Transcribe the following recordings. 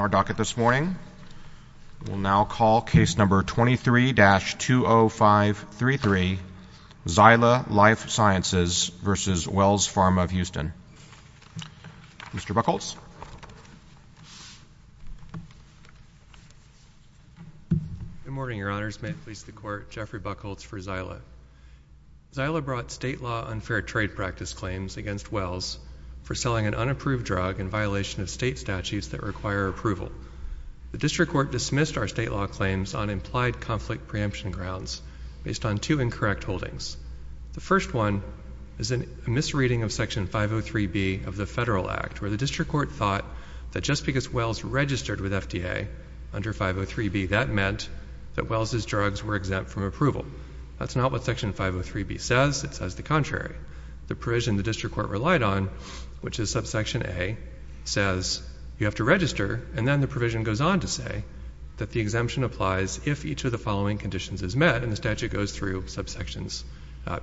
Our docket this morning, we'll now call case number 23-20533, Zyla Life Sciences v. Wells Pharma of Houston. Mr. Buchholz. Good morning, your honors. May it please the court, Jeffrey Buchholz for Zyla. Zyla brought state law unfair trade practice claims against Wells for selling an unapproved drug in violation of state statutes that require approval. The district court dismissed our state law claims on implied conflict preemption grounds based on two incorrect holdings. The first one is a misreading of Section 503B of the Federal Act where the district court thought that just because Wells registered with FDA under 503B, that meant that Wells' drugs were exempt from approval. That's not what Section 503B says. It says the contrary. The provision the district court relied on, which is subsection A, says you have to register, and then the provision goes on to say that the exemption applies if each of the following conditions is met, and the statute goes through subsections,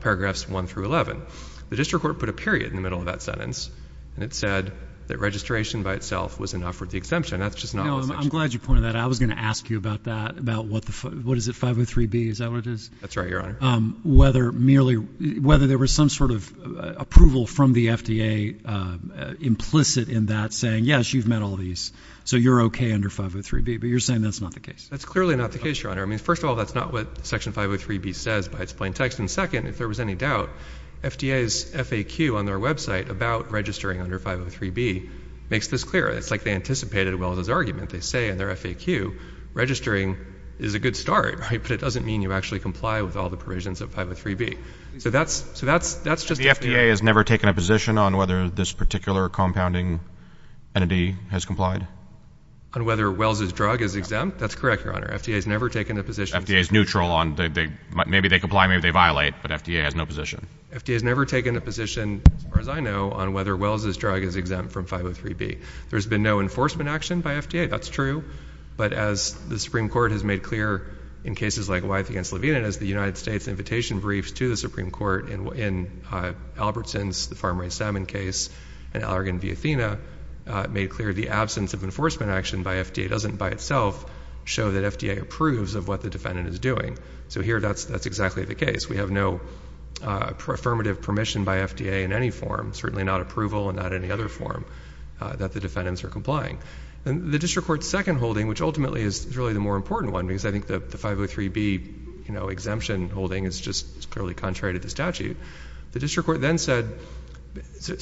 paragraphs 1 through 11. The district court put a period in the middle of that sentence, and it said that registration by itself was enough for the exemption. That's just not what the statute says. No, I'm glad you pointed that out. I was going to ask you about that, about what the, what is it, 503B? Is that what it is? That's right, your honor. Whether merely, whether there was some sort of approval from the FDA implicit in that saying, yes, you've met all these, so you're okay under 503B, but you're saying that's not the case. That's clearly not the case, your honor. I mean, first of all, that's not what Section 503B says by its plain text, and second, if there was any doubt, FDA's FAQ on their website about registering under 503B makes this clear. It's like they anticipated Wells' argument. They say in their FAQ, registering is a good start, right, but it doesn't mean you actually comply with all the provisions of 503B. So that's, so that's, that's just. The FDA has never taken a position on whether this particular compounding entity has complied? On whether Wells' drug is exempt? That's correct, your honor. FDA's never taken a position. FDA's neutral on, maybe they comply, maybe they violate, but FDA has no position. FDA's never taken a position, as far as I know, on whether Wells' drug is exempt from 503B. There's been no enforcement action by FDA, that's true, but as the Supreme Court has made clear in cases like Wyeth v. Levine, and as the United States invitation briefs to the Supreme Court in Albertson's, the farm-raised salmon case, and Allergan v. Athena, made clear the absence of enforcement action by FDA doesn't, by itself, show that FDA approves of what the defendant is doing. So here, that's, that's exactly the case. We have no affirmative permission by FDA in any form, certainly not approval and not any other form, that the defendants are complying. And the District Court's second holding, which ultimately is really the more important one, because I think that the 503B, you know, exemption holding is just clearly contrary to the statute. The District Court then said, so,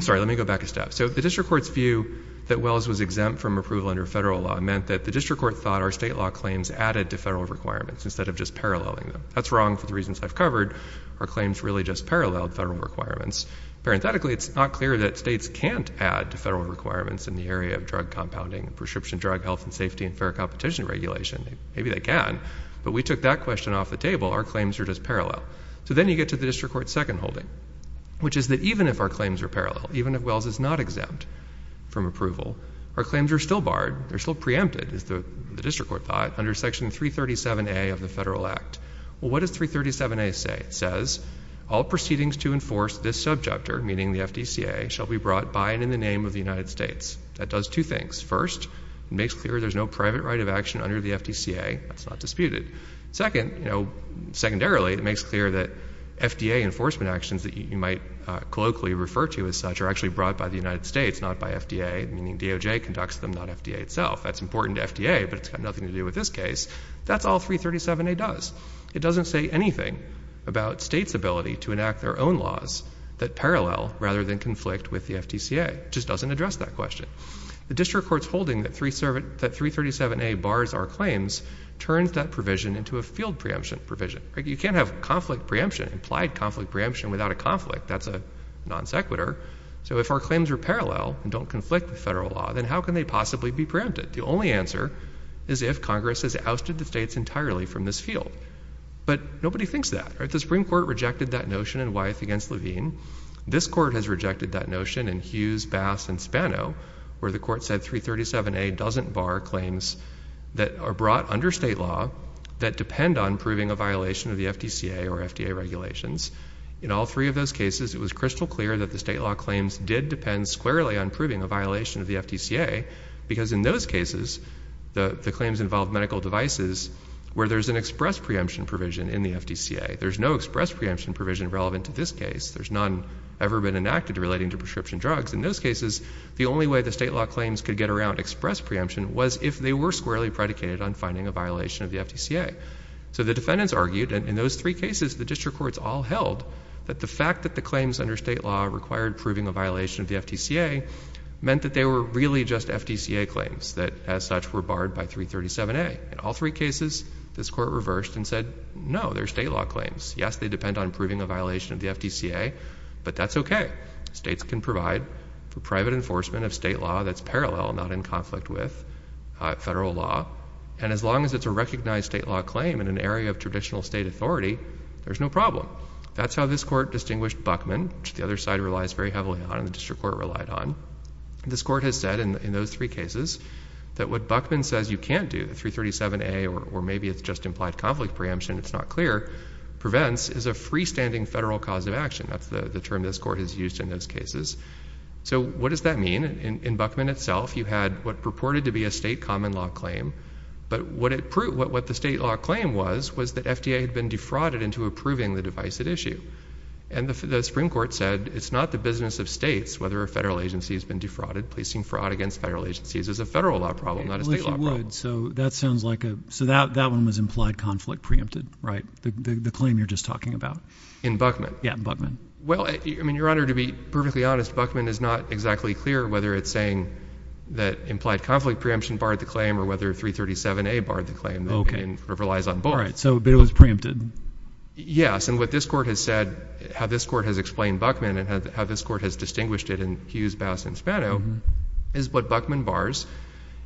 sorry, let me go back a step. So the District Court's view that Wells was exempt from approval under federal law meant that the District Court thought our state law claims added to federal requirements, instead of just paralleling them. That's wrong for the reasons I've covered. Our claims really just paralleled federal requirements. Parenthetically, it's not clear that states can't add to federal requirements in the area of drug compounding, prescription drug health and safety, and fair competition regulation. Maybe they can, but we took that question off the table. Our claims are just parallel. So then you get to the District Court's second holding, which is that even if our claims are parallel, even if Wells is not exempt from approval, our claims are still barred. They're still preempted, is the District Court thought, under Section 337A of the Federal Act. Well, what does 337A say? It says, all proceedings to enforce this subjector, meaning the FDCA, shall be brought by and in the name of the United States. That does two things. First, it makes clear there's no private right of action under the FDCA. That's not disputed. Second, you know, secondarily, it makes clear that FDA enforcement actions that you might colloquially refer to as such are actually brought by the United States, not by FDA, meaning DOJ conducts them, not FDA itself. That's important to FDA, but it's got nothing to do with this case. That's all 337A does. It doesn't say anything about states' ability to enact their own laws that parallel, rather than conflict with the FDCA. It just doesn't address that question. The District Court's holding that 337A bars our claims turns that provision into a field preemption provision. You can't have conflict preemption, implied conflict preemption, without a conflict. That's a non sequitur. So if our claims are parallel and don't conflict with federal law, then how can they possibly be preempted? The only answer is if Congress has ousted the states entirely from this field. But nobody thinks that. The Supreme Court rejected that notion in Wyeth v. Levine. This Court has rejected that notion in Hughes v. Bass v. Spano, where the Court said 337A doesn't bar claims that are brought under state law that depend on proving a violation of the FDCA or FDA regulations. In all three of those cases, it was crystal clear that the state law claims did depend squarely on proving a violation of the FDCA, because in those cases the claims involve medical devices where there's an express preemption provision in the FDCA. There's no express preemption provision relevant to this case. There's none ever been enacted relating to prescription drugs. In those cases, the only way the state law claims could get around express preemption was if they were squarely predicated on finding a violation of the FDCA. So the defendants argued, and in those three cases the district courts all held, that the fact that the claims under state law required proving a violation of the FDCA meant that they were really just FDCA claims that, as such, were barred by 337A. In all three cases, this Court reversed and said, no, they're state law claims. Yes, they depend on proving a violation of the FDCA, but that's OK. States can provide private enforcement of state law that's parallel, not in conflict with federal law. And as long as it's a recognized state law claim in an area of traditional state authority, there's no problem. That's how this Court distinguished Buckman, which the other side relies very heavily on and the district court relied on. This Court has said in those three cases that what Buckman says you can't do, 337A, or maybe it's just implied conflict preemption, it's not clear, prevents is a freestanding federal cause of action. That's the term this Court has used in those cases. So what does that mean? In Buckman itself, you had what purported to be a state common law claim, but what the state law claim was was that FDA had been defrauded into approving the device at issue. And the Supreme Court said it's not the business of states whether a federal agency has been defrauded. Placing fraud against federal agencies is a federal law problem, not a state law problem. So that sounds like a, so that one was implied conflict preempted, right? The claim you're just talking about. In Buckman? Yeah, in Buckman. Well, I mean, Your Honor, to be perfectly honest, Buckman is not exactly clear whether it's saying that implied conflict preemption barred the claim or whether 337A barred the claim. Okay. And it relies on both. All right, so it was preempted. Yes, and what this Court has said, how this Court has explained Buckman and how this Court has distinguished it in Hughes, Bass, and Spano is what Buckman bars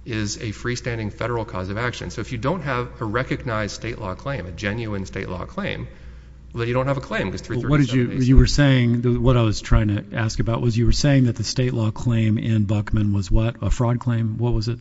is a freestanding federal cause of action. So if you don't have a recognized state law claim, a genuine state law claim, well, you don't have a claim because 337A... What I was trying to ask about was you were saying that the state law claim in Buckman was what? A fraud claim? What was it?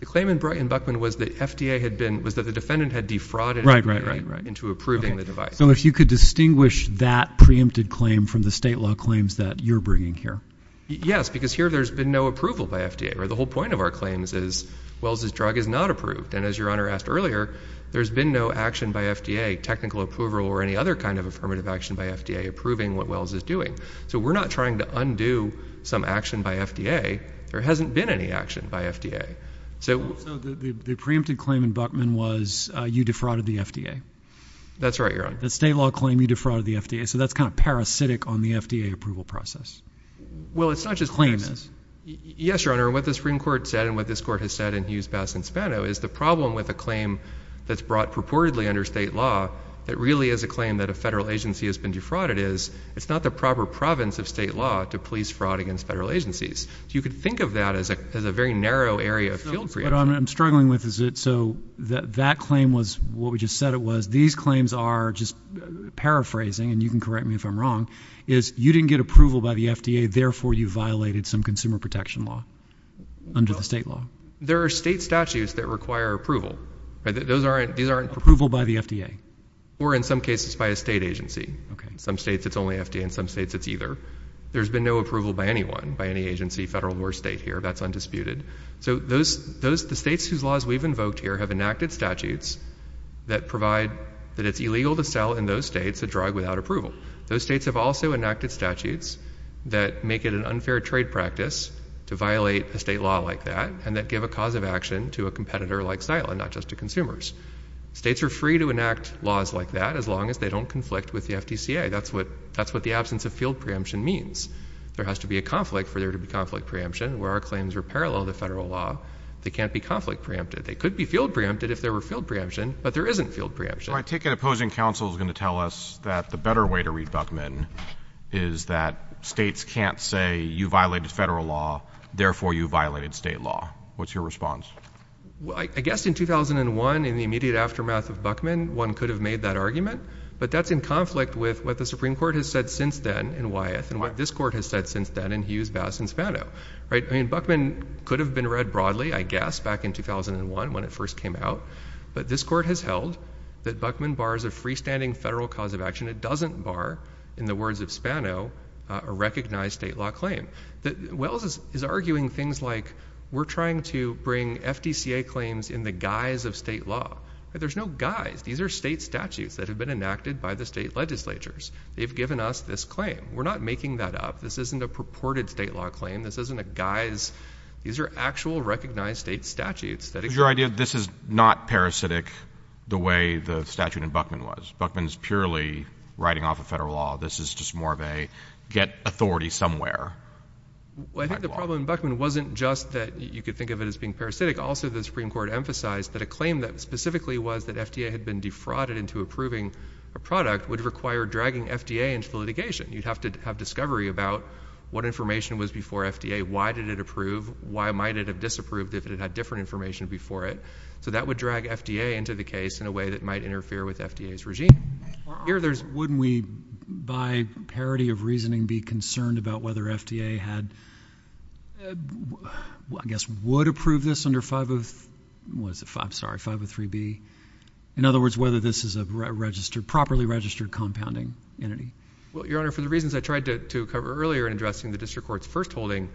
The claim in Buckman was that FDA had been, was that the defendant had defrauded into approving the device. So if you could distinguish that preempted claim from the state law claims that you're bringing here. Yes, because here there's been no approval by FDA, or the whole point of our claims is Wells' drug is not approved. And as Your Honor asked earlier, there's been no action by FDA, technical approval, or any other kind of affirmative action by FDA approving what Wells is doing. So we're not trying to undo some action by FDA. There hasn't been any action by FDA. So... So the preempted claim in Buckman was you defrauded the FDA. That's right, Your Honor. The state law claim you defrauded the FDA. So that's kind of parasitic on the FDA approval process. Well, it's not just... The claim is. Yes, Your Honor. What the Supreme Court said, and what this court has said in Hughes, Bass, and Spano is the problem with a claim that's brought purportedly under state law that really is a claim that a federal agency has been defrauded is, it's not the proper province of state law to police fraud against federal agencies. So you could think of that as a, as a very narrow area of field preemption. But I'm, I'm struggling with is it, so that, that claim was what we just said it was. These claims are just paraphrasing, and you can correct me if I'm wrong, is you didn't get approval by the FDA, therefore you violated some consumer protection law under the state law. There are state statutes that require approval. Those aren't, these aren't... Approval by the FDA. Or in some cases by a state agency. Okay. In some states it's only FDA, in some states it's either. There's been no approval by anyone, by any agency, federal or state here. That's undisputed. So those, those, the states whose laws we've invoked here have enacted statutes that provide that it's illegal to sell in those states a drug without approval. Those states have also enacted statutes that make it an unfair trade practice to violate a state law like that, and that give a cause of action to a competitor like Xyla, not just to consumers. States are free to enact laws like that as long as they don't conflict with the FDCA. That's what, that's what the absence of field preemption means. There has to be a conflict for there to be conflict preemption, where our claims are parallel to federal law. They can't be conflict preempted. They could be field preempted if there were field preemption, but there isn't field preemption. Well, I take it opposing counsel is going to tell us that the better way to read Buckman is that states can't say you violated federal law, therefore you violated state law. What's your response? Well, I guess in 2001, in the immediate aftermath of Buckman, one could have made that argument, but that's in conflict with what the Supreme Court has said since then in Wyeth, and what this court has said since then in Hughes, Bass, and Spano. Right? I mean, Buckman could have been read broadly, I guess, back in 2001 when it first came out, but this court has ruled that Buckman bars a freestanding federal cause of action. It doesn't bar, in the words of Spano, a recognized state law claim. Wells is arguing things like, we're trying to bring FDCA claims in the guise of state law. There's no guise. These are state statutes that have been enacted by the state legislatures. They've given us this claim. We're not making that up. This isn't a purported state law claim. This isn't a guise. These are actual recognized state statutes that- So it was your idea that this is not parasitic the way the statute in Buckman was. Buckman's purely writing off of federal law. This is just more of a, get authority somewhere. Well, I think the problem in Buckman wasn't just that you could think of it as being parasitic. Also, the Supreme Court emphasized that a claim that specifically was that FDA had been defrauded into approving a product would require dragging FDA into the litigation. You'd have to have discovery about what information was before FDA, why did it approve, why might it have disapproved if it had had different information before it? So that would drag FDA into the case in a way that might interfere with FDA's regime. Wouldn't we, by parity of reasoning, be concerned about whether FDA had, I guess would approve this under 503B? In other words, whether this is a properly registered compounding entity? Well, Your Honor, for the reasons I tried to cover earlier in addressing the District Court's first holding,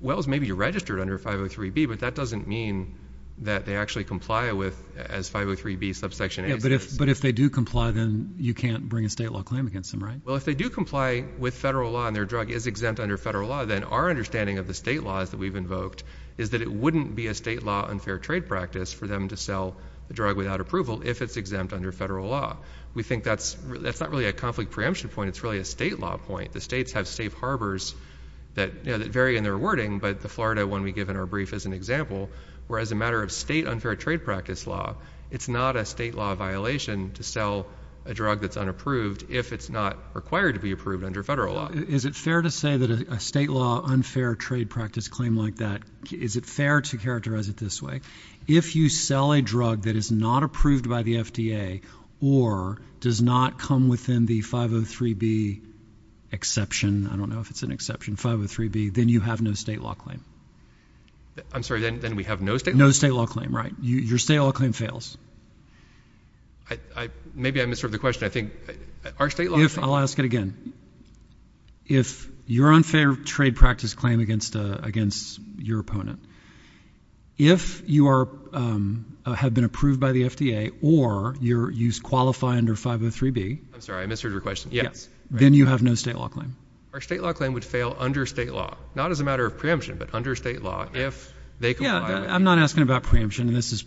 Wells may be registered under 503B, but that doesn't mean that they actually comply with, as 503B subsection A says. But if they do comply, then you can't bring a state law claim against them, right? Well, if they do comply with federal law and their drug is exempt under federal law, then our understanding of the state laws that we've invoked is that it wouldn't be a state law unfair trade practice for them to sell the drug without approval if it's exempt under federal law. We think that's not really a conflict preemption point. It's really a state law point. The states have safe harbors that vary in their wording, but the Florida one we give in our brief is an example where as a matter of state unfair trade practice law, it's not a state law violation to sell a drug that's unapproved if it's not required to be approved under federal law. Is it fair to say that a state law unfair trade practice claim like that, is it fair to characterize it this way? If you sell a drug that is not approved by the FDA or does not come within the 503B exception, I don't know if it's an exception, 503B, then you have no state law claim. I'm sorry, then we have no state law claim? No state law claim, right. Your state law claim fails. Maybe I misheard the question. I think our state law claim... I'll ask it again. If your unfair trade practice claim against your opponent, if you have been approved by the FDA or you qualify under 503B, then you have no state law claim. Our state law claim would fail under state law, not as a matter of preemption, but under state law if they comply with it. I'm not asking about preemption. This is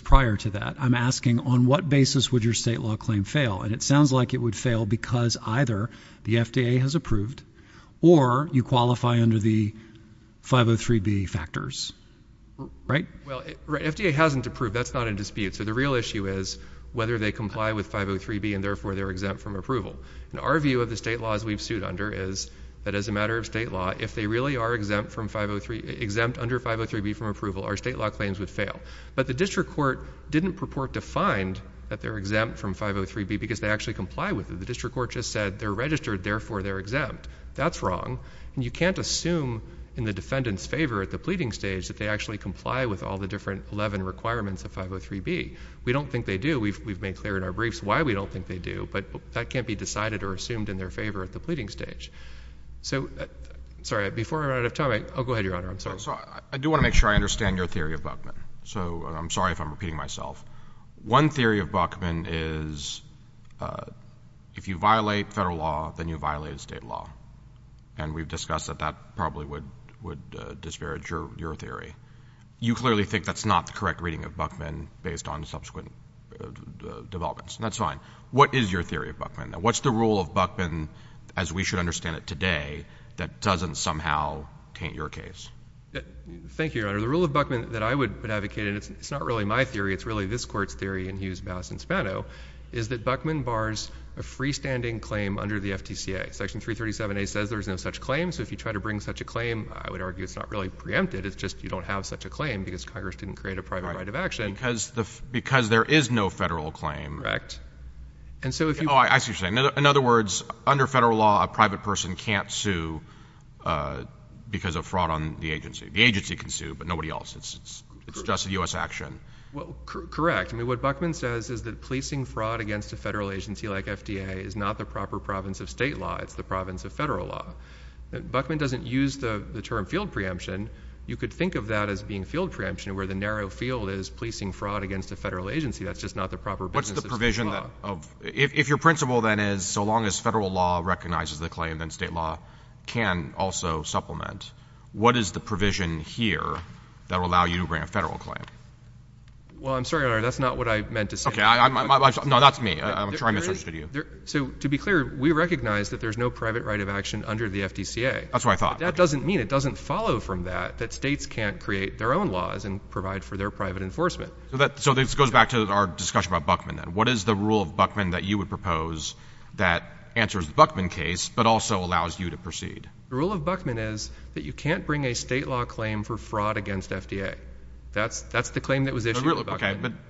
prior to that. I'm asking on what basis would your state law claim fail? It sounds like it would fail because either the FDA has approved or you qualify under the 503B factors, right? Well, FDA hasn't approved. That's not in dispute. So the real issue is whether they comply with 503B and therefore they're exempt from approval. Our view of the state laws we've sued under is that as a matter of state law, if they really are exempt from 503...exempt under 503B from approval, our state law claims would fail. But the district court didn't purport to find that they're exempt from 503B because they actually comply with it. The district court just said they're registered, therefore they're exempt. That's wrong. You can't assume in the defendant's favor at the pleading stage that they actually comply with all the different 11 requirements of 503B. We don't think they do. We've made clear in our briefs why we don't think they do, but that can't be decided or assumed in their favor at the pleading stage. So, sorry, before I run out of time, I'll go ahead, Your Honor. I'm sorry. So I do want to make sure I understand your theory of Buckman. So I'm sorry if I'm repeating myself. One theory of Buckman is if you violate federal law, then you violate state law. And we've discussed that that probably would disparage your theory. You clearly think that's not the correct reading of Buckman based on subsequent developments. That's fine. What is your theory of Buckman? What's the rule of Buckman, as we should understand it today, that doesn't somehow taint your case? Thank you, Your Honor. The rule of Buckman that I would advocate, and it's not really my theory, it's really this Court's theory in Hughes, Bass, and Spano, is that Buckman bars a freestanding claim under the FTCA. Section 337A says there's no such claim, so if you try to bring such a claim, I would argue it's not really preempted. It's just you don't have such a claim because Congress didn't create a private right of action. Because there is no federal claim. Correct. Oh, I see what you're saying. In other words, under federal law, a private person can't sue because of fraud on the agency. The agency can sue, but nobody else. It's just a U.S. action. Correct. What Buckman says is that policing fraud against a federal agency like FDA is not the proper province of state law. It's the province of federal law. Buckman doesn't use the term field preemption. You could think of that as being field preemption, where the narrow field is policing fraud against a federal agency. That's just not the proper business of state law. What's the provision of — if your principle, then, is so long as federal law recognizes the claim, then state law can also supplement, what is the provision here that will allow you to bring a federal claim? Well, I'm sorry, Your Honor, that's not what I meant to say. Okay, I'm — no, that's me. I'm sure I misunderstood you. So, to be clear, we recognize that there's no private right of action under the FTCA. That's what I thought. That doesn't mean — it doesn't follow from that, that states can't create their own laws and provide for their private enforcement. So that — so this goes back to our discussion about Buckman, then. What is the rule of Buckman that you would propose that answers the Buckman case but also allows you to proceed? The rule of Buckman is that you can't bring a state law claim for fraud against FDA. That's — that's the claim that was issued in Buckman. Okay, but —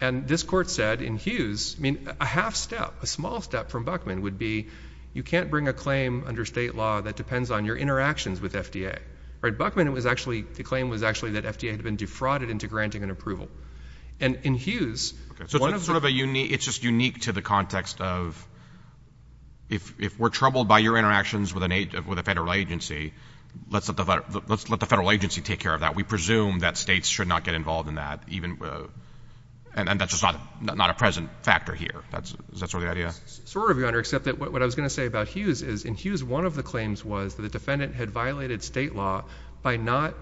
And this Court said in Hughes — I mean, a half-step, a small step from Buckman would be you can't bring a claim under state law that depends on your interactions with FDA. All right, Buckman was actually — the claim was actually that FDA had been defrauded into granting an approval. And in Hughes — Okay, so it's sort of a unique — it's just unique to the context of if we're troubled by your interactions with a federal agency, let's let the federal agency take care of that. We presume that states should not get involved in that, even — and that's just not a present factor here. Is that sort of the idea? Sort of, Your Honor, except that what I was going to say about Hughes is, in Hughes, one of the claims was that the defendant had violated state law by not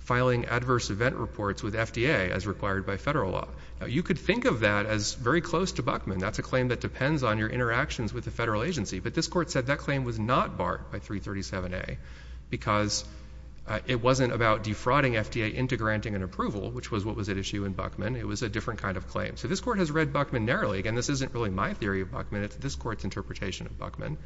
filing adverse event reports with FDA, as required by federal law. Now, you could think of that as very close to Buckman. That's a claim that depends on your interactions with the federal agency. But this Court said that claim was not barred by 337a because it wasn't about defrauding FDA into granting an approval, which was what was at issue in Buckman. It was a different kind of claim. So this Court has read Buckman narrowly. Again, this isn't really my theory of Buckman. It's this Court's interpretation of Buckman.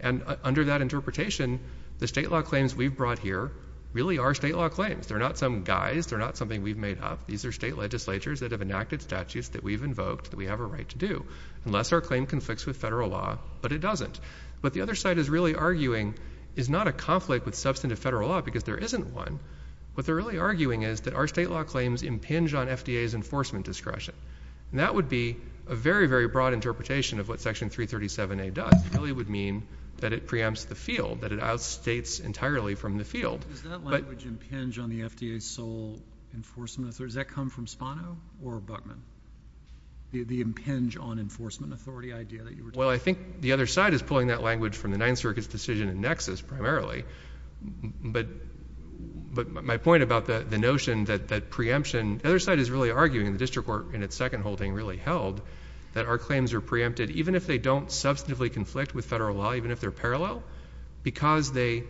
And under that interpretation, the state law claims we've brought here really are state law claims. They're not some guise. They're not something we've made up. These are state legislatures that have enacted statutes that we've invoked that we have a right to do, unless our claim conflicts with federal law. But it doesn't. What the other side is really arguing is not a conflict with substantive federal law, because there isn't one. What they're really arguing is that our state law claims impinge on FDA's enforcement discretion. And that would be a very, very broad interpretation of what Section 337a does. It really would mean that it preempts the field, that it outstates entirely from the field. Does that language impinge on the FDA's sole enforcement authority? Does that come from Spano or Buckman, the impinge on enforcement authority idea that you were talking about? Well, I think the other side is pulling that language from the Ninth Circuit's decision in Nexus, primarily. But my point about the notion that preemption, the other side is really arguing the district court in its second holding really held that our claims are preempted, even if they don't substantively conflict with federal law, even if they're parallel, because they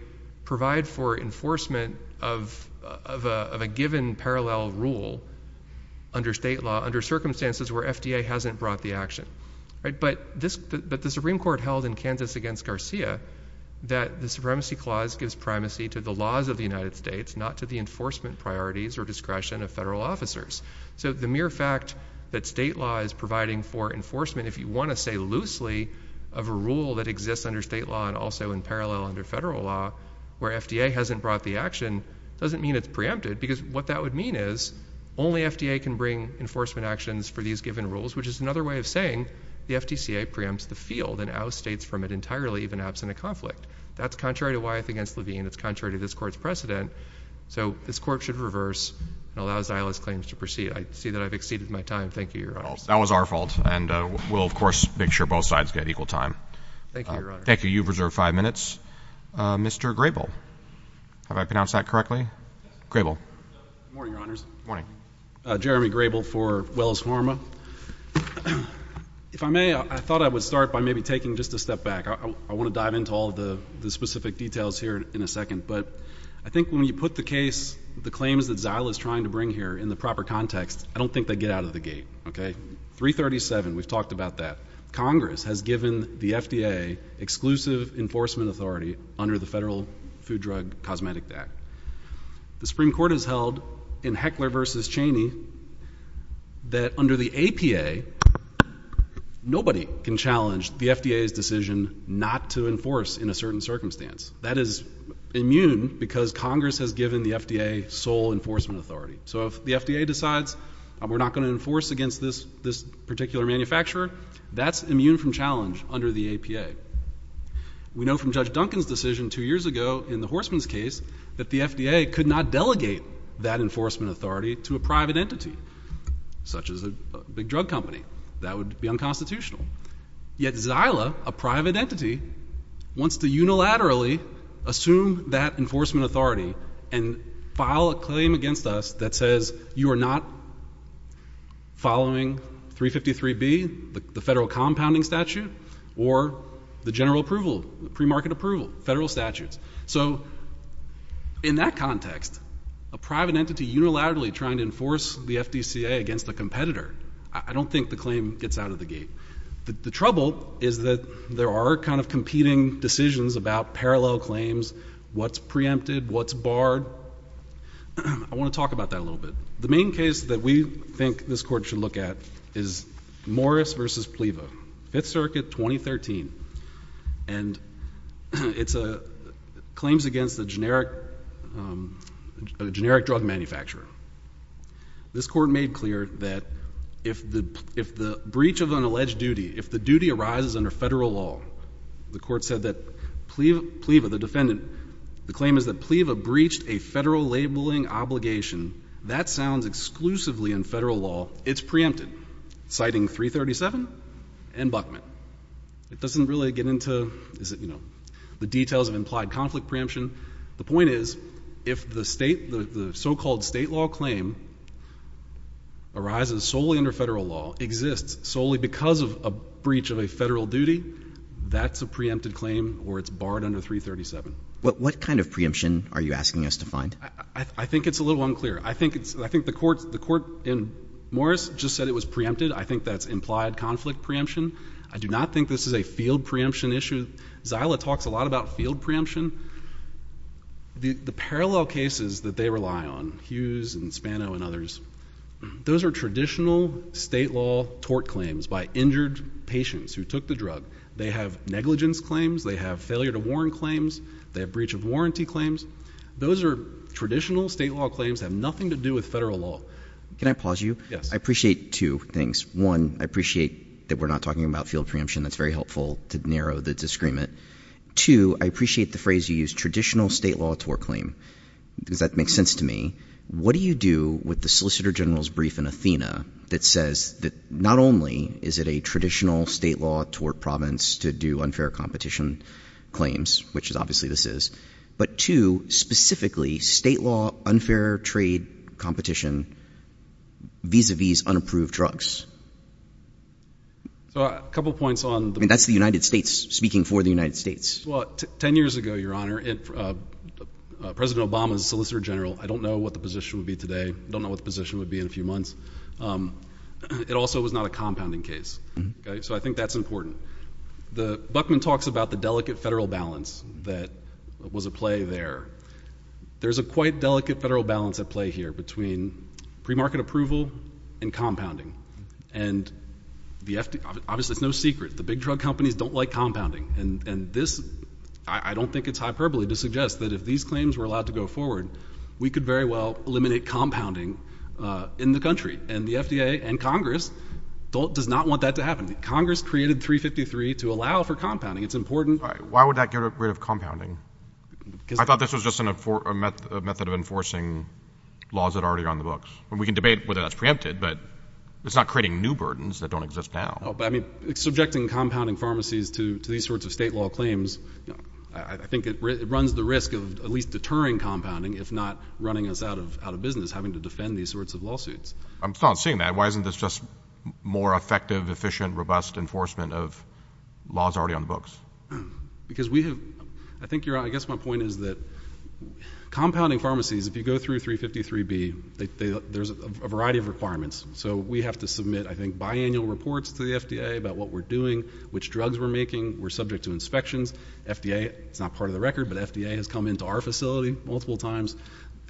provide for enforcement of a given parallel rule under state law, under circumstances where FDA hasn't brought the action. But the Supreme Court held in Kansas against Garcia that the supremacy clause gives primacy to the laws of the United States, not to the enforcement priorities or discretion of federal officers. So the mere fact that state law is providing for enforcement, if you want to say loosely, of a rule that exists under state law and also in parallel under federal law, where FDA hasn't brought the action, doesn't mean it's preempted. Because what that would mean is, only FDA can bring enforcement actions for these given rules, which is another way of saying the FDCA preempts the field and outstates from it entirely, even absent a conflict. That's contrary to Wyeth against Levine. It's contrary to this court's precedent. So this court should reverse and allow Zila's claims to proceed. I see that I've exceeded my time. Thank you, Your Honor. That was our fault. And we'll, of course, make sure both sides get equal time. Thank you, Your Honor. Thank you. You've reserved five minutes. Mr. Grable. Have I pronounced that correctly? Grable. Good morning, Your Honors. Good morning. Jeremy Grable for Wells Pharma. If I may, I thought I would start by maybe taking just a step back. I want to dive into all the specific details here in a second. But I think when you put the case, the claims that Zila is trying to bring here in the proper context, I don't think they get out of the gate. Okay. 337, we've talked about that. Congress has given the FDA exclusive enforcement authority under the Federal Food Drug Cosmetic Act. The Supreme Court has held in Heckler v. Cheney that under the APA, nobody can challenge the FDA's decision not to enforce in a certain circumstance. That is immune because Congress has given the FDA sole enforcement authority. So if the FDA decides we're not going to enforce against this particular manufacturer, that's immune from challenge under the APA. We know from Judge Duncan's decision two years ago in the Horstman's case that the FDA could not delegate that enforcement authority to a private entity, such as a big drug company. That would be unconstitutional. Yet Zila, a private entity, wants to unilaterally assume that enforcement authority and file a claim against us that says you are not following 353B, the Federal Compounding Statute, or the general approval, premarket approval, federal statutes. So in that context, a private entity unilaterally trying to enforce the FDCA against a competitor, I don't think the claim gets out of the gate. The trouble is that there are kind of competing decisions about parallel claims, what's preempted, what's barred. I want to talk about that a little bit. The main case that we think this Court should look at is Morris v. Pliva, Fifth Circuit, 2013. And it's claims against a generic drug manufacturer. This Court made clear that if the breach of an alleged duty, if the duty arises under federal law, the Court said that Pliva, the defendant, the claim is that Pliva breached a federal labeling obligation. That sounds exclusively in federal law. It's preempted, citing 337 and Buckman. It doesn't really get into the details of implied conflict preemption. The point is, if the so-called state law claim arises solely under federal law, exists solely because of a breach of a federal duty, that's a preempted claim, or it's barred under 337. What kind of preemption are you asking us to find? I think it's a little unclear. I think the Court in Morris just said it was preempted. I think that's implied conflict preemption. I do not think this is a field preemption issue. Zyla talks a lot about field preemption. The parallel cases that they rely on, Hughes and Spano and others, those are traditional state law tort claims by injured patients who took the drug. They have negligence claims. They have failure to warn claims. They have breach of warranty claims. Those are traditional state law claims that have nothing to do with federal law. Can I pause you? Yes. I appreciate two things. One, I appreciate that we're not talking about field preemption. That's very helpful to narrow the disagreement. Two, I appreciate the phrase you used, traditional state law tort claim, because that makes sense to me. What do you do with the Solicitor General's brief in Athena that says that not only is it a traditional state law tort province to do unfair competition claims, which obviously this is, but two, specifically, state law unfair trade competition vis-a-vis unapproved drugs? So a couple of points on the— I mean, that's the United States speaking for the United States. Well, 10 years ago, Your Honor, President Obama's Solicitor General—I don't know what the position would be today. I don't know what the position would be in a few months. It also was not a the—Buckman talks about the delicate federal balance that was at play there. There's a quite delicate federal balance at play here between pre-market approval and compounding. And the FDA—obviously, it's no secret, the big drug companies don't like compounding. And this, I don't think it's hyperbole to suggest that if these claims were allowed to go forward, we could very well eliminate compounding in the country. And the FDA and Congress does not want that to happen. Congress created 353 to allow for compounding. It's important— All right. Why would that get rid of compounding? I thought this was just a method of enforcing laws that are already on the books. We can debate whether that's preempted, but it's not creating new burdens that don't exist now. No, but I mean, subjecting compounding pharmacies to these sorts of state law claims, I think it runs the risk of at least deterring compounding, if not running us out of business, having to defend these sorts of lawsuits. I'm not seeing that. Why isn't this just more effective, efficient, robust enforcement of laws already on the books? Because we have—I think you're—I guess my point is that compounding pharmacies, if you go through 353B, there's a variety of requirements. So we have to submit, I think, biannual reports to the FDA about what we're doing, which drugs we're making. We're subject to inspections. FDA—it's not part of the record, but FDA has come into our facility multiple times.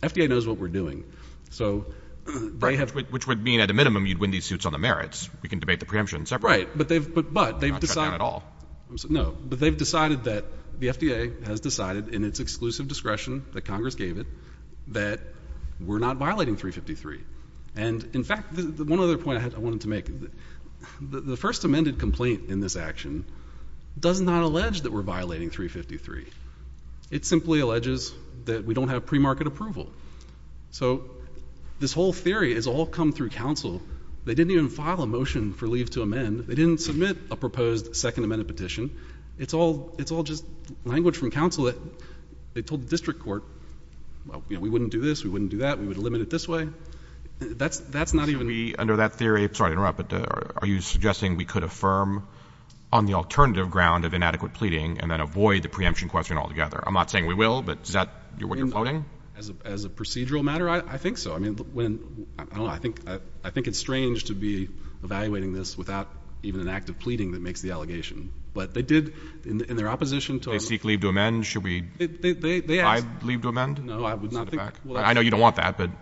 FDA knows what we're doing. So they have— Which would mean, at a minimum, you'd win these suits on the merits. We can debate the preemption separately. Right, but they've decided— Not shut down at all. No, but they've decided that the FDA has decided, in its exclusive discretion that Congress gave it, that we're not violating 353. And in fact, one other point I wanted to make, the first amended complaint in this action does not allege that we're violating 353. It simply alleges that we don't have premarket approval. So this whole theory has all come through counsel. They didn't even file a motion for leave to amend. They didn't submit a proposed second amended petition. It's all—it's all just language from counsel that they told the district court, well, you know, we wouldn't do this, we wouldn't do that, we would limit it this way. That's—that's not even— So we, under that theory—sorry to interrupt, but are you suggesting we could affirm on the alternative ground of inadequate pleading and then avoid the preemption question altogether? I'm not saying we will, but is that what you're voting? As a procedural matter, I think so. I mean, when—I don't know, I think it's strange to be evaluating this without even an act of pleading that makes the allegation. But they did, in their opposition to— They seek leave to amend. Should we— They ask— Filed leave to amend? No, I would not think— I know you don't want that, but, I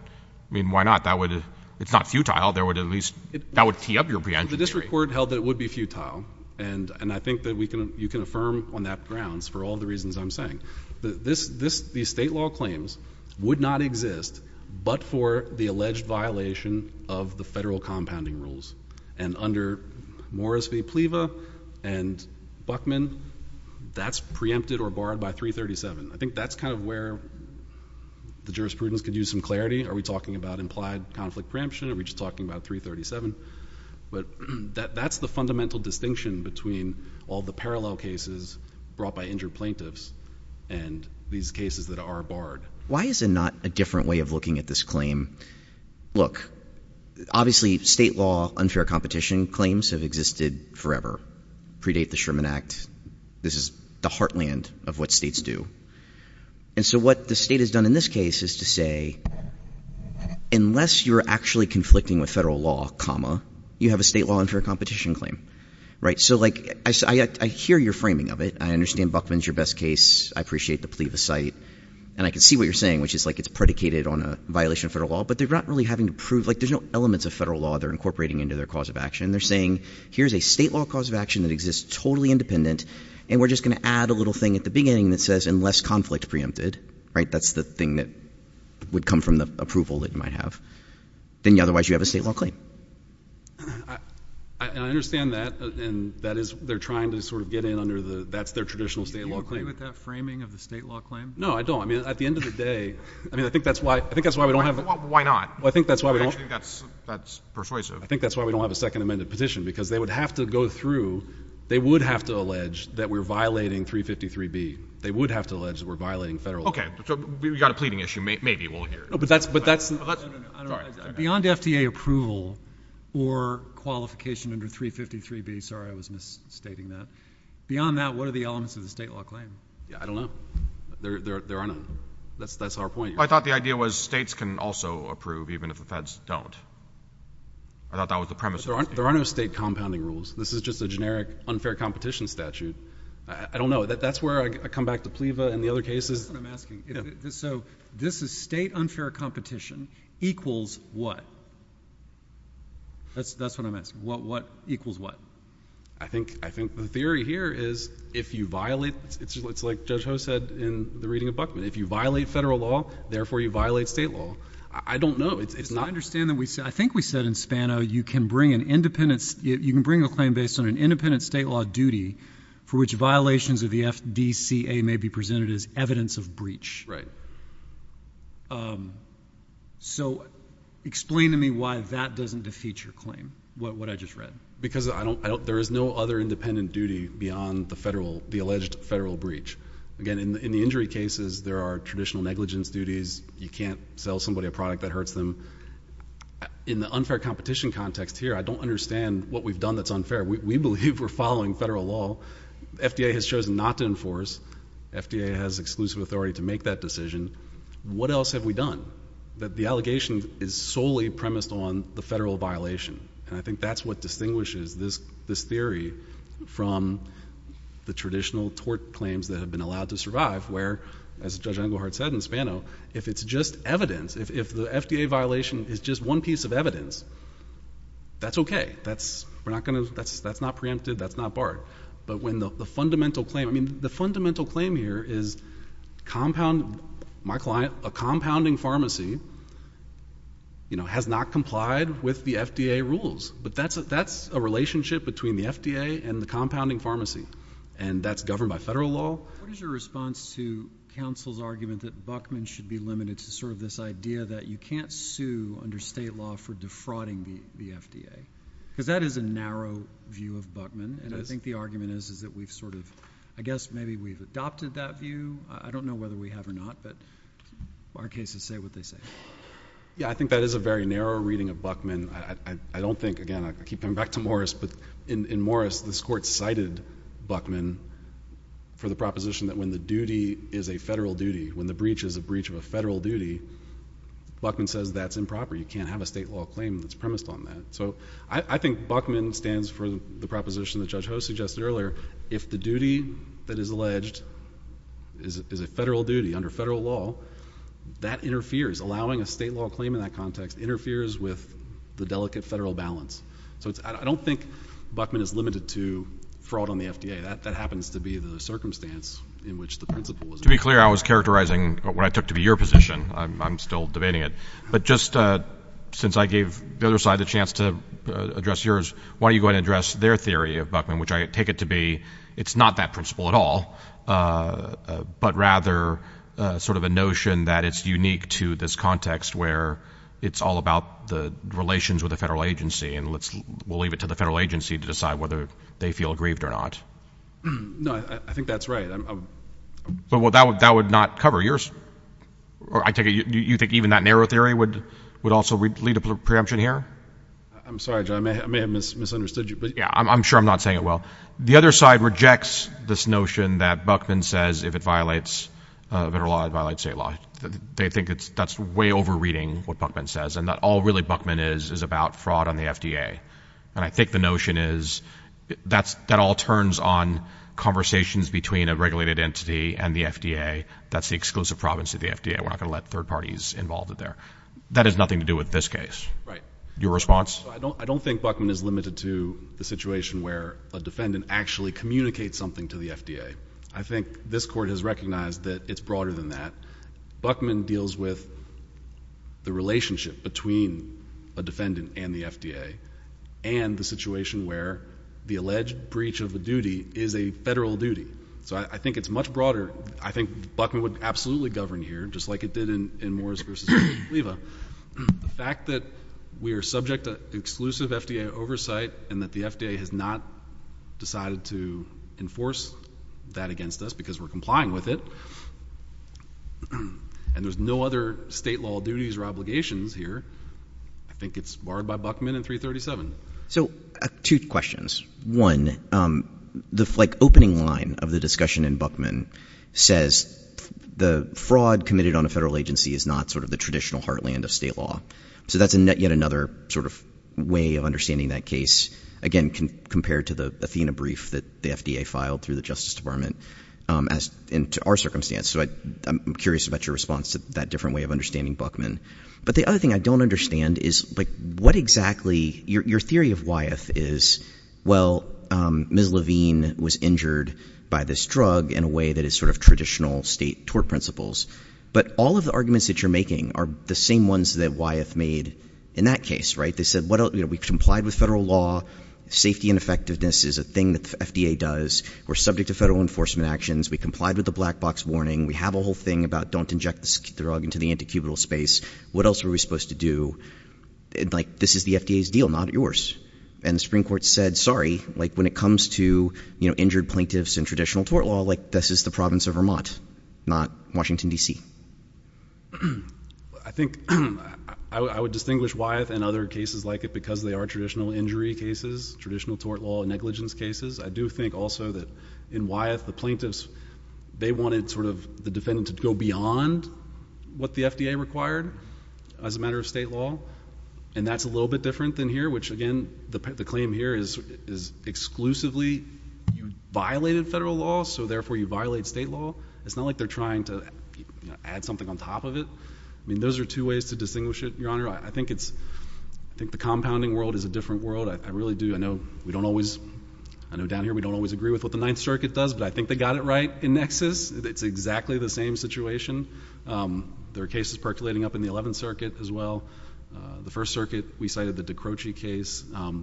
mean, why not? That would—it's not futile. There would at least—that would tee up your preemption theory. Well, the district court held that it would be futile, and I think that we can—you can affirm on that grounds for all the reasons I'm saying. This—these state law claims would not exist but for the alleged violation of the federal compounding rules. And under Morris v. Pleva and Buckman, that's preempted or barred by 337. I think that's kind of where the jurisprudence could use some clarity. Are we talking about implied conflict preemption, or are we just talking about 337? But that's the fundamental distinction between all the parallel cases brought by injured plaintiffs and these cases that are barred. Why is it not a different way of looking at this claim? Look, obviously, state law unfair competition claims have existed forever, predate the Sherman Act. This is the heartland of what states do. And so what the state has done in this case is to say, unless you're actually conflicting with federal law, comma, you have a state law unfair competition claim, right? So, like, I hear your framing of it. I understand Buckman's your best case. I appreciate the Pleva site. And I can see what you're saying, which is, like, it's predicated on a violation of federal law, but they're not really having to prove—like, there's no elements of federal law they're incorporating into their cause of action. They're saying, here's a state law cause of action that exists totally independent, and we're just going to add a little thing at the beginning that says, unless conflict preempted, right, that's the thing that would come from the approval that you might have. Then, otherwise, you have a state law claim. I understand that, and that is — they're trying to sort of get in under the — that's their traditional state law claim. Do you agree with that framing of the state law claim? No, I don't. I mean, at the end of the day, I mean, I think that's why — I think that's why we don't have — Well, why not? Well, I think that's why we don't — I actually think that's persuasive. I think that's why we don't have a second amended petition, because they would have to go through — they would have to allege that we're violating 353B. They would have to allege that we're violating federal law. Okay, so we've got a pleading issue. Maybe we'll hear it. No, but that's — no, no, no. Beyond FDA approval or qualification under 353B — sorry, I was misstating that — beyond that, what are the elements of the state law claim? Yeah, I don't know. There are no — that's our point here. Well, I thought the idea was states can also approve, even if the feds don't. I thought that was the premise. There are no state compounding rules. This is just a generic unfair competition statute. I don't know. That's where I come back to PLEVA in the other cases. That's what I'm asking. So this is state unfair competition equals what? That's what I'm asking. Equals what? I think the theory here is if you violate — it's like Judge Ho said in the reading of Buckman. If you violate federal law, therefore you violate state law. I don't know. It's not — I understand that we — I think we said in Spano you can bring an independent — you can bring a claim based on an independent state law duty for which violations of the FDCA may be evidence of breach. Right. So explain to me why that doesn't defeat your claim, what I just read. Because I don't — there is no other independent duty beyond the federal — the alleged federal breach. Again, in the injury cases, there are traditional negligence duties. You can't sell somebody a product that hurts them. In the unfair competition context here, I don't understand what we've done that's unfair. We believe we're following federal law. FDA has chosen not to and has exclusive authority to make that decision. What else have we done? That the allegation is solely premised on the federal violation. And I think that's what distinguishes this theory from the traditional tort claims that have been allowed to survive, where, as Judge Engelhardt said in Spano, if it's just evidence, if the FDA violation is just one piece of evidence, that's okay. That's — we're not going to — that's not preempted. That's not barred. But when the fundamental claim — I mean, the fundamental claim here is compound — my client, a compounding pharmacy, you know, has not complied with the FDA rules. But that's a relationship between the FDA and the compounding pharmacy. And that's governed by federal law. What is your response to counsel's argument that Buckman should be limited to sort of this idea that you can't sue under state law for defrauding the FDA? Because that is a narrow view of Buckman, and I think the argument is that we've sort of — I guess maybe we've adopted that view. I don't know whether we have or not, but our cases say what they say. Yeah, I think that is a very narrow reading of Buckman. I don't think — again, I keep coming back to Morris, but in Morris, this Court cited Buckman for the proposition that when the duty is a federal duty, when the breach is a breach of a federal duty, Buckman says that's improper. You can't have a state law claim that's premised on that. So I think Buckman stands for the proposition that Judge Hoh suggested earlier. If the duty that is alleged is a federal duty under federal law, that interferes. Allowing a state law claim in that context interferes with the delicate federal balance. So I don't think Buckman is limited to fraud on the FDA. That happens to be the circumstance in which the principle was — To be clear, I was characterizing what I took to be your position. I'm still debating it. But just since I gave the other side a chance to address yours, why don't you go ahead and I take it to be it's not that principle at all, but rather sort of a notion that it's unique to this context where it's all about the relations with the federal agency, and we'll leave it to the federal agency to decide whether they feel grieved or not. No, I think that's right. But that would not cover yours. Or I take it you think even that narrow theory would also lead to preemption here? I'm sorry, Judge. I may have misunderstood you. Yeah, I'm sure I'm not saying it well. The other side rejects this notion that Buckman says if it violates federal law, it violates state law. They think that's way over reading what Buckman says, and that all really Buckman is is about fraud on the FDA. And I think the notion is that all turns on conversations between a regulated entity and the FDA. That's the exclusive province of the FDA. We're not going to let third parties involved there. That has nothing to do with this case. Right. Your response? I don't think Buckman is limited to the situation where a defendant actually communicates something to the FDA. I think this court has recognized that it's broader than that. Buckman deals with the relationship between a defendant and the FDA and the situation where the alleged breach of the duty is a federal duty. So I think it's much broader. I think Buckman would absolutely govern here, just like it did in Morris v. Oliva. The fact that we are subject to exclusive FDA oversight and that the FDA has not decided to enforce that against us because we're complying with it, and there's no other state law duties or obligations here, I think it's barred by Buckman in 337. So two questions. One, the opening line of the discussion in Buckman says the fraud committed on a federal agency is not the traditional heartland of state law. So that's yet another way of understanding that case, again, compared to the Athena brief that the FDA filed through the Justice Department and to our circumstance. So I'm curious about your response to that different way of understanding Buckman. But the other thing I don't understand is, your theory of Wyeth is, well, Ms. Levine was injured by this drug in a way that is traditional state tort principles. But all of the arguments that you're making are the same ones that Wyeth made in that case. They said, we've complied with federal law. Safety and effectiveness is a thing that the FDA does. We're subject to federal enforcement actions. We complied with the black box warning. We have a whole thing about don't inject this drug into the antecubital space. What else are we supposed to do? This is the FDA's deal, not yours. And the Supreme Court said, sorry, when it comes to injured plaintiffs in traditional tort law, this is the province of Vermont, not Washington, DC. I think I would distinguish Wyeth and other cases like it because they are traditional injury cases, traditional tort law negligence cases. I do think also that in Wyeth, the plaintiffs, they wanted the defendant to go beyond what the FDA required as a matter of state law. And that's a little bit different than here, which, again, the claim here is exclusively you violated federal law, so therefore you violate state law. It's not like they're trying to add something on top of it. I mean, those are two ways to distinguish it, Your Honor. I think the compounding world is a different world. I really do. I know we don't always, I know down here we don't always agree with what the Ninth Circuit does, but I think they got it right in Nexus. It's exactly the same situation. There are cases percolating up in the Croce case.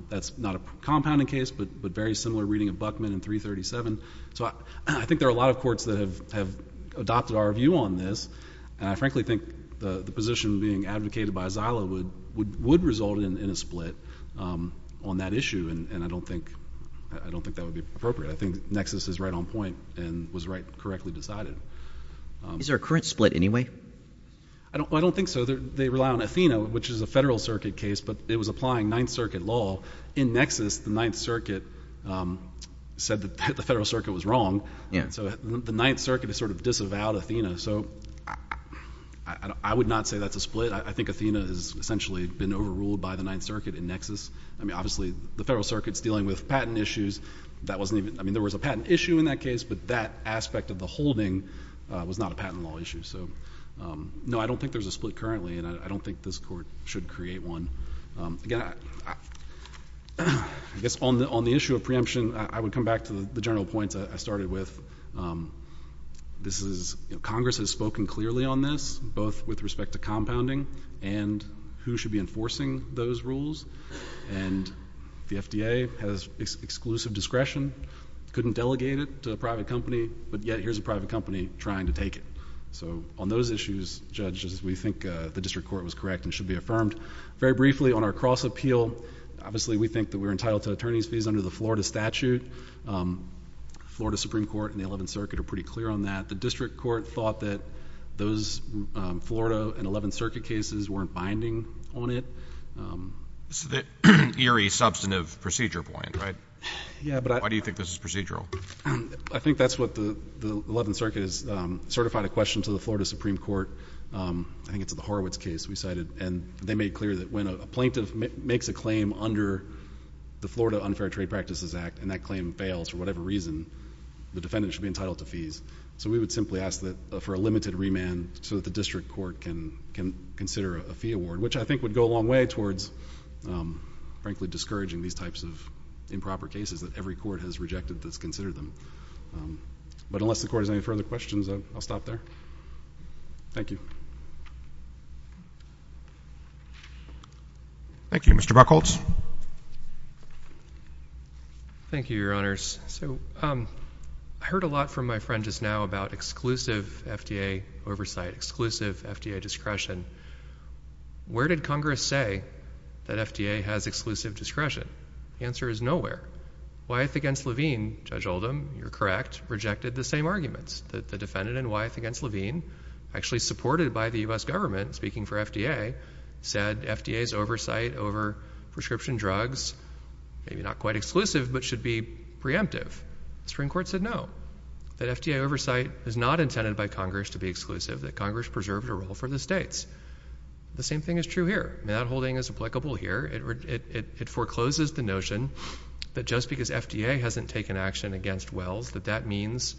That's not a compounding case, but very similar reading of Buckman in 337. So I think there are a lot of courts that have adopted our view on this, and I frankly think the position being advocated by Zyla would result in a split on that issue, and I don't think that would be appropriate. I think Nexus is right on point and was right, correctly decided. Is there a current split anyway? I don't think so. They rely on Athena, which is a federal circuit case, but it was applying Ninth Circuit law. In Nexus, the Ninth Circuit said that the federal circuit was wrong, so the Ninth Circuit has sort of disavowed Athena. So I would not say that's a split. I think Athena has essentially been overruled by the Ninth Circuit in Nexus. I mean, obviously the federal circuit's dealing with patent issues. That wasn't even, I mean, there was a patent issue in that case, but that aspect of the holding was not a patent law issue. So no, I don't think there's a split. Again, I guess on the issue of preemption, I would come back to the general points I started with. Congress has spoken clearly on this, both with respect to compounding and who should be enforcing those rules, and the FDA has exclusive discretion, couldn't delegate it to a private company, but yet here's a private company trying to take it. So on those issues, judges, we think the district court was correct and should be affirmed. Very briefly, on our cross-appeal, obviously we think that we're entitled to attorney's fees under the Florida statute. Florida Supreme Court and the Eleventh Circuit are pretty clear on that. The district court thought that those Florida and Eleventh Circuit cases weren't binding on it. This is the eerie substantive procedure point, right? Yeah, but I— Why do you think this is procedural? I think that's what the Eleventh Circuit has certified a question to the Florida Supreme Court. I think it's the Horowitz case we cited, and they made clear that when a plaintiff makes a claim under the Florida Unfair Trade Practices Act and that claim fails for whatever reason, the defendant should be entitled to fees. So we would simply ask for a limited remand so that the district court can consider a fee award, which I think would go a long way towards, frankly, discouraging these types of improper cases that every court has rejected that's considered them. But unless the court has any further questions, I'll stop there. Thank you. Thank you. Mr. Buchholz. Thank you, Your Honors. So I heard a lot from my friend just now about exclusive FDA oversight, exclusive FDA discretion. Where did Congress say that FDA has exclusive discretion? The answer is nowhere. Wyeth v. Levine, Judge Oldham, you're correct, rejected the same argument. The defendant in Wyeth v. Levine, actually supported by the U.S. government, speaking for FDA, said FDA's oversight over prescription drugs, maybe not quite exclusive, but should be preemptive. The Supreme Court said no, that FDA oversight is not intended by Congress to be exclusive, that Congress preserves a role for the states. The same thing is true here. That holding is applicable here. It forecloses the notion that just because FDA hasn't taken action against Wells, that that means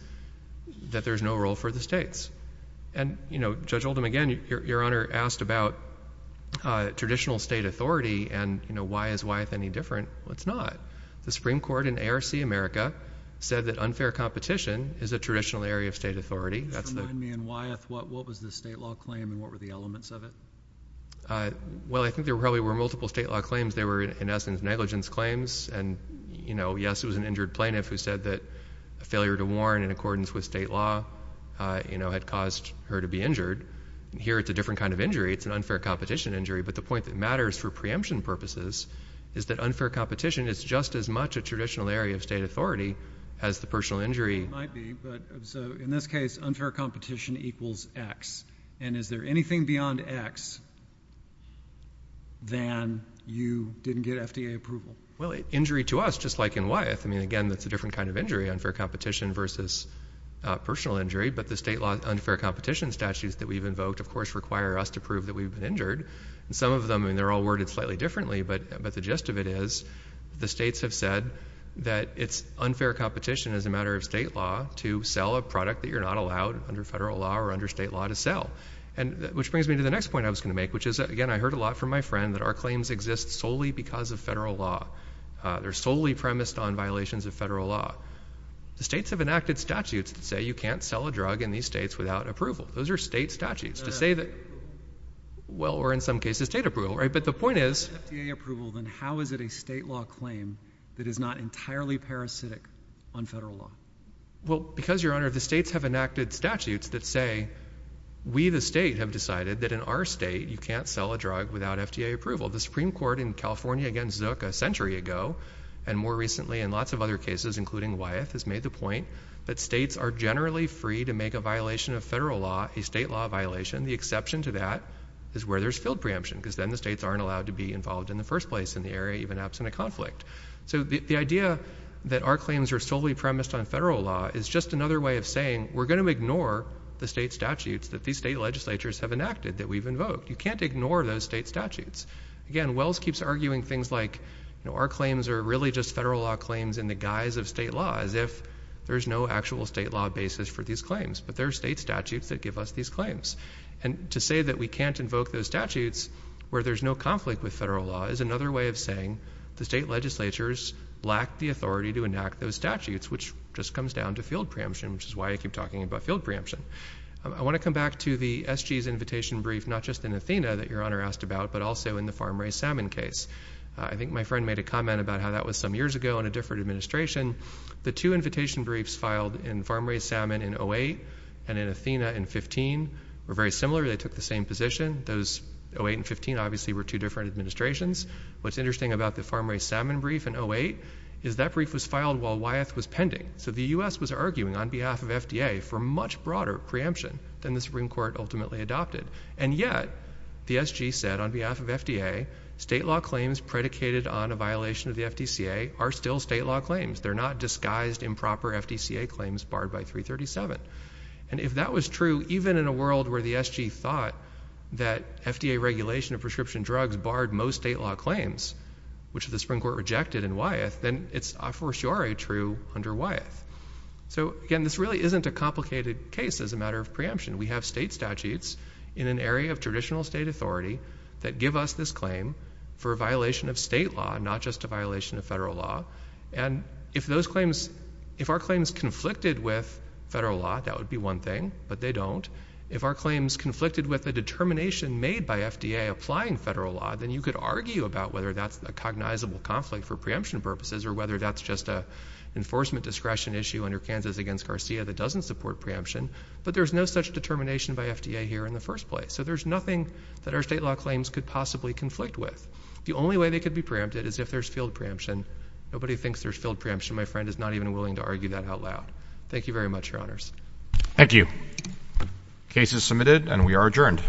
that there's no role for the states. And, you know, Judge Oldham, again, Your Honor, asked about traditional state authority and, you know, why is Wyeth any different? Well, it's not. The Supreme Court in ARC America said that unfair competition is a traditional area of state authority. Just remind me, in Wyeth, what was the state law claim and what were the elements of it? Well, I think there probably were multiple state law claims. They were, in essence, negligence claims. And, you know, yes, it was an injured plaintiff who said that a failure to warn in accordance with state law, you know, had caused her to be injured. Here, it's a different kind of injury. It's an unfair competition injury. But the point that matters for preemption purposes is that unfair competition is just as much a traditional area of state authority as the personal injury. It might be, but so in this case, unfair equals X. And is there anything beyond X than you didn't get FDA approval? Well, injury to us, just like in Wyeth, I mean, again, that's a different kind of injury, unfair competition versus personal injury. But the state law unfair competition statutes that we've invoked, of course, require us to prove that we've been injured. And some of them, I mean, they're all worded slightly differently. But the gist of it is the states have said that it's unfair competition as a matter of state law to sell a product that you're not allowed, under federal law or under state law, to sell. Which brings me to the next point I was going to make, which is, again, I heard a lot from my friend that our claims exist solely because of federal law. They're solely premised on violations of federal law. The states have enacted statutes that say you can't sell a drug in these states without approval. Those are state statutes to say that, well, or in some cases, state approval, right? But the point is... If it's FDA approval, then how is it a state law claim that is not entirely parasitic on federal law? Well, because, Your Honor, the states have enacted statutes that say we, the state, have decided that in our state, you can't sell a drug without FDA approval. The Supreme Court in California against Zook a century ago, and more recently in lots of other cases, including Wyeth, has made the point that states are generally free to make a violation of federal law a state law violation. The exception to that is where there's field preemption, because then the states aren't allowed to be involved in the first place in the area, even absent of conflict. So the idea that our claims are solely premised on federal law is just another way of saying we're going to ignore the state statutes that these state legislatures have enacted that we've invoked. You can't ignore those state statutes. Again, Wells keeps arguing things like, you know, our claims are really just federal law claims in the guise of state law, as if there's no actual state law basis for these claims. But there are state statutes that give us these claims. And to say that we can't invoke those statutes where there's no conflict with is another way of saying the state legislatures lack the authority to enact those statutes, which just comes down to field preemption, which is why I keep talking about field preemption. I want to come back to the SG's invitation brief, not just in Athena that Your Honor asked about, but also in the farm-raised salmon case. I think my friend made a comment about how that was some years ago in a different administration. The two invitation briefs filed in farm-raised salmon in 08 and in Athena in 15 were very similar. They took the same position. Those 08 and 15 obviously were two different administrations. What's interesting about the farm-raised salmon brief in 08 is that brief was filed while Wyeth was pending. So the U.S. was arguing on behalf of FDA for much broader preemption than the Supreme Court ultimately adopted. And yet, the SG said on behalf of FDA, state law claims predicated on a violation of the FDCA are still state law claims. They're not disguised improper FDCA claims barred by 337. And if that was true, even in a world where the SG thought that FDA regulation of prescription drugs barred most state law claims, which the Supreme Court rejected in Wyeth, then it's a for sure true under Wyeth. So again, this really isn't a complicated case as a matter of preemption. We have state statutes in an area of traditional state authority that give us this claim for a violation of state law, not just a violation of federal law. And if our claims conflicted with federal law, that would be one thing, but they don't. If our claims conflicted with a determination made by FDA applying federal law, then you could argue about whether that's a cognizable conflict for preemption purposes or whether that's just a enforcement discretion issue under Kansas against Garcia that doesn't support preemption. But there's no such determination by FDA here in the first place. So there's nothing that our state law claims could possibly conflict with. The only way they could be preempted is if there's field preemption. Nobody thinks there's field preemption. My friend is not even willing to argue that out loud. Thank you very much, Your Honors. Thank you. Case is submitted and we are adjourned.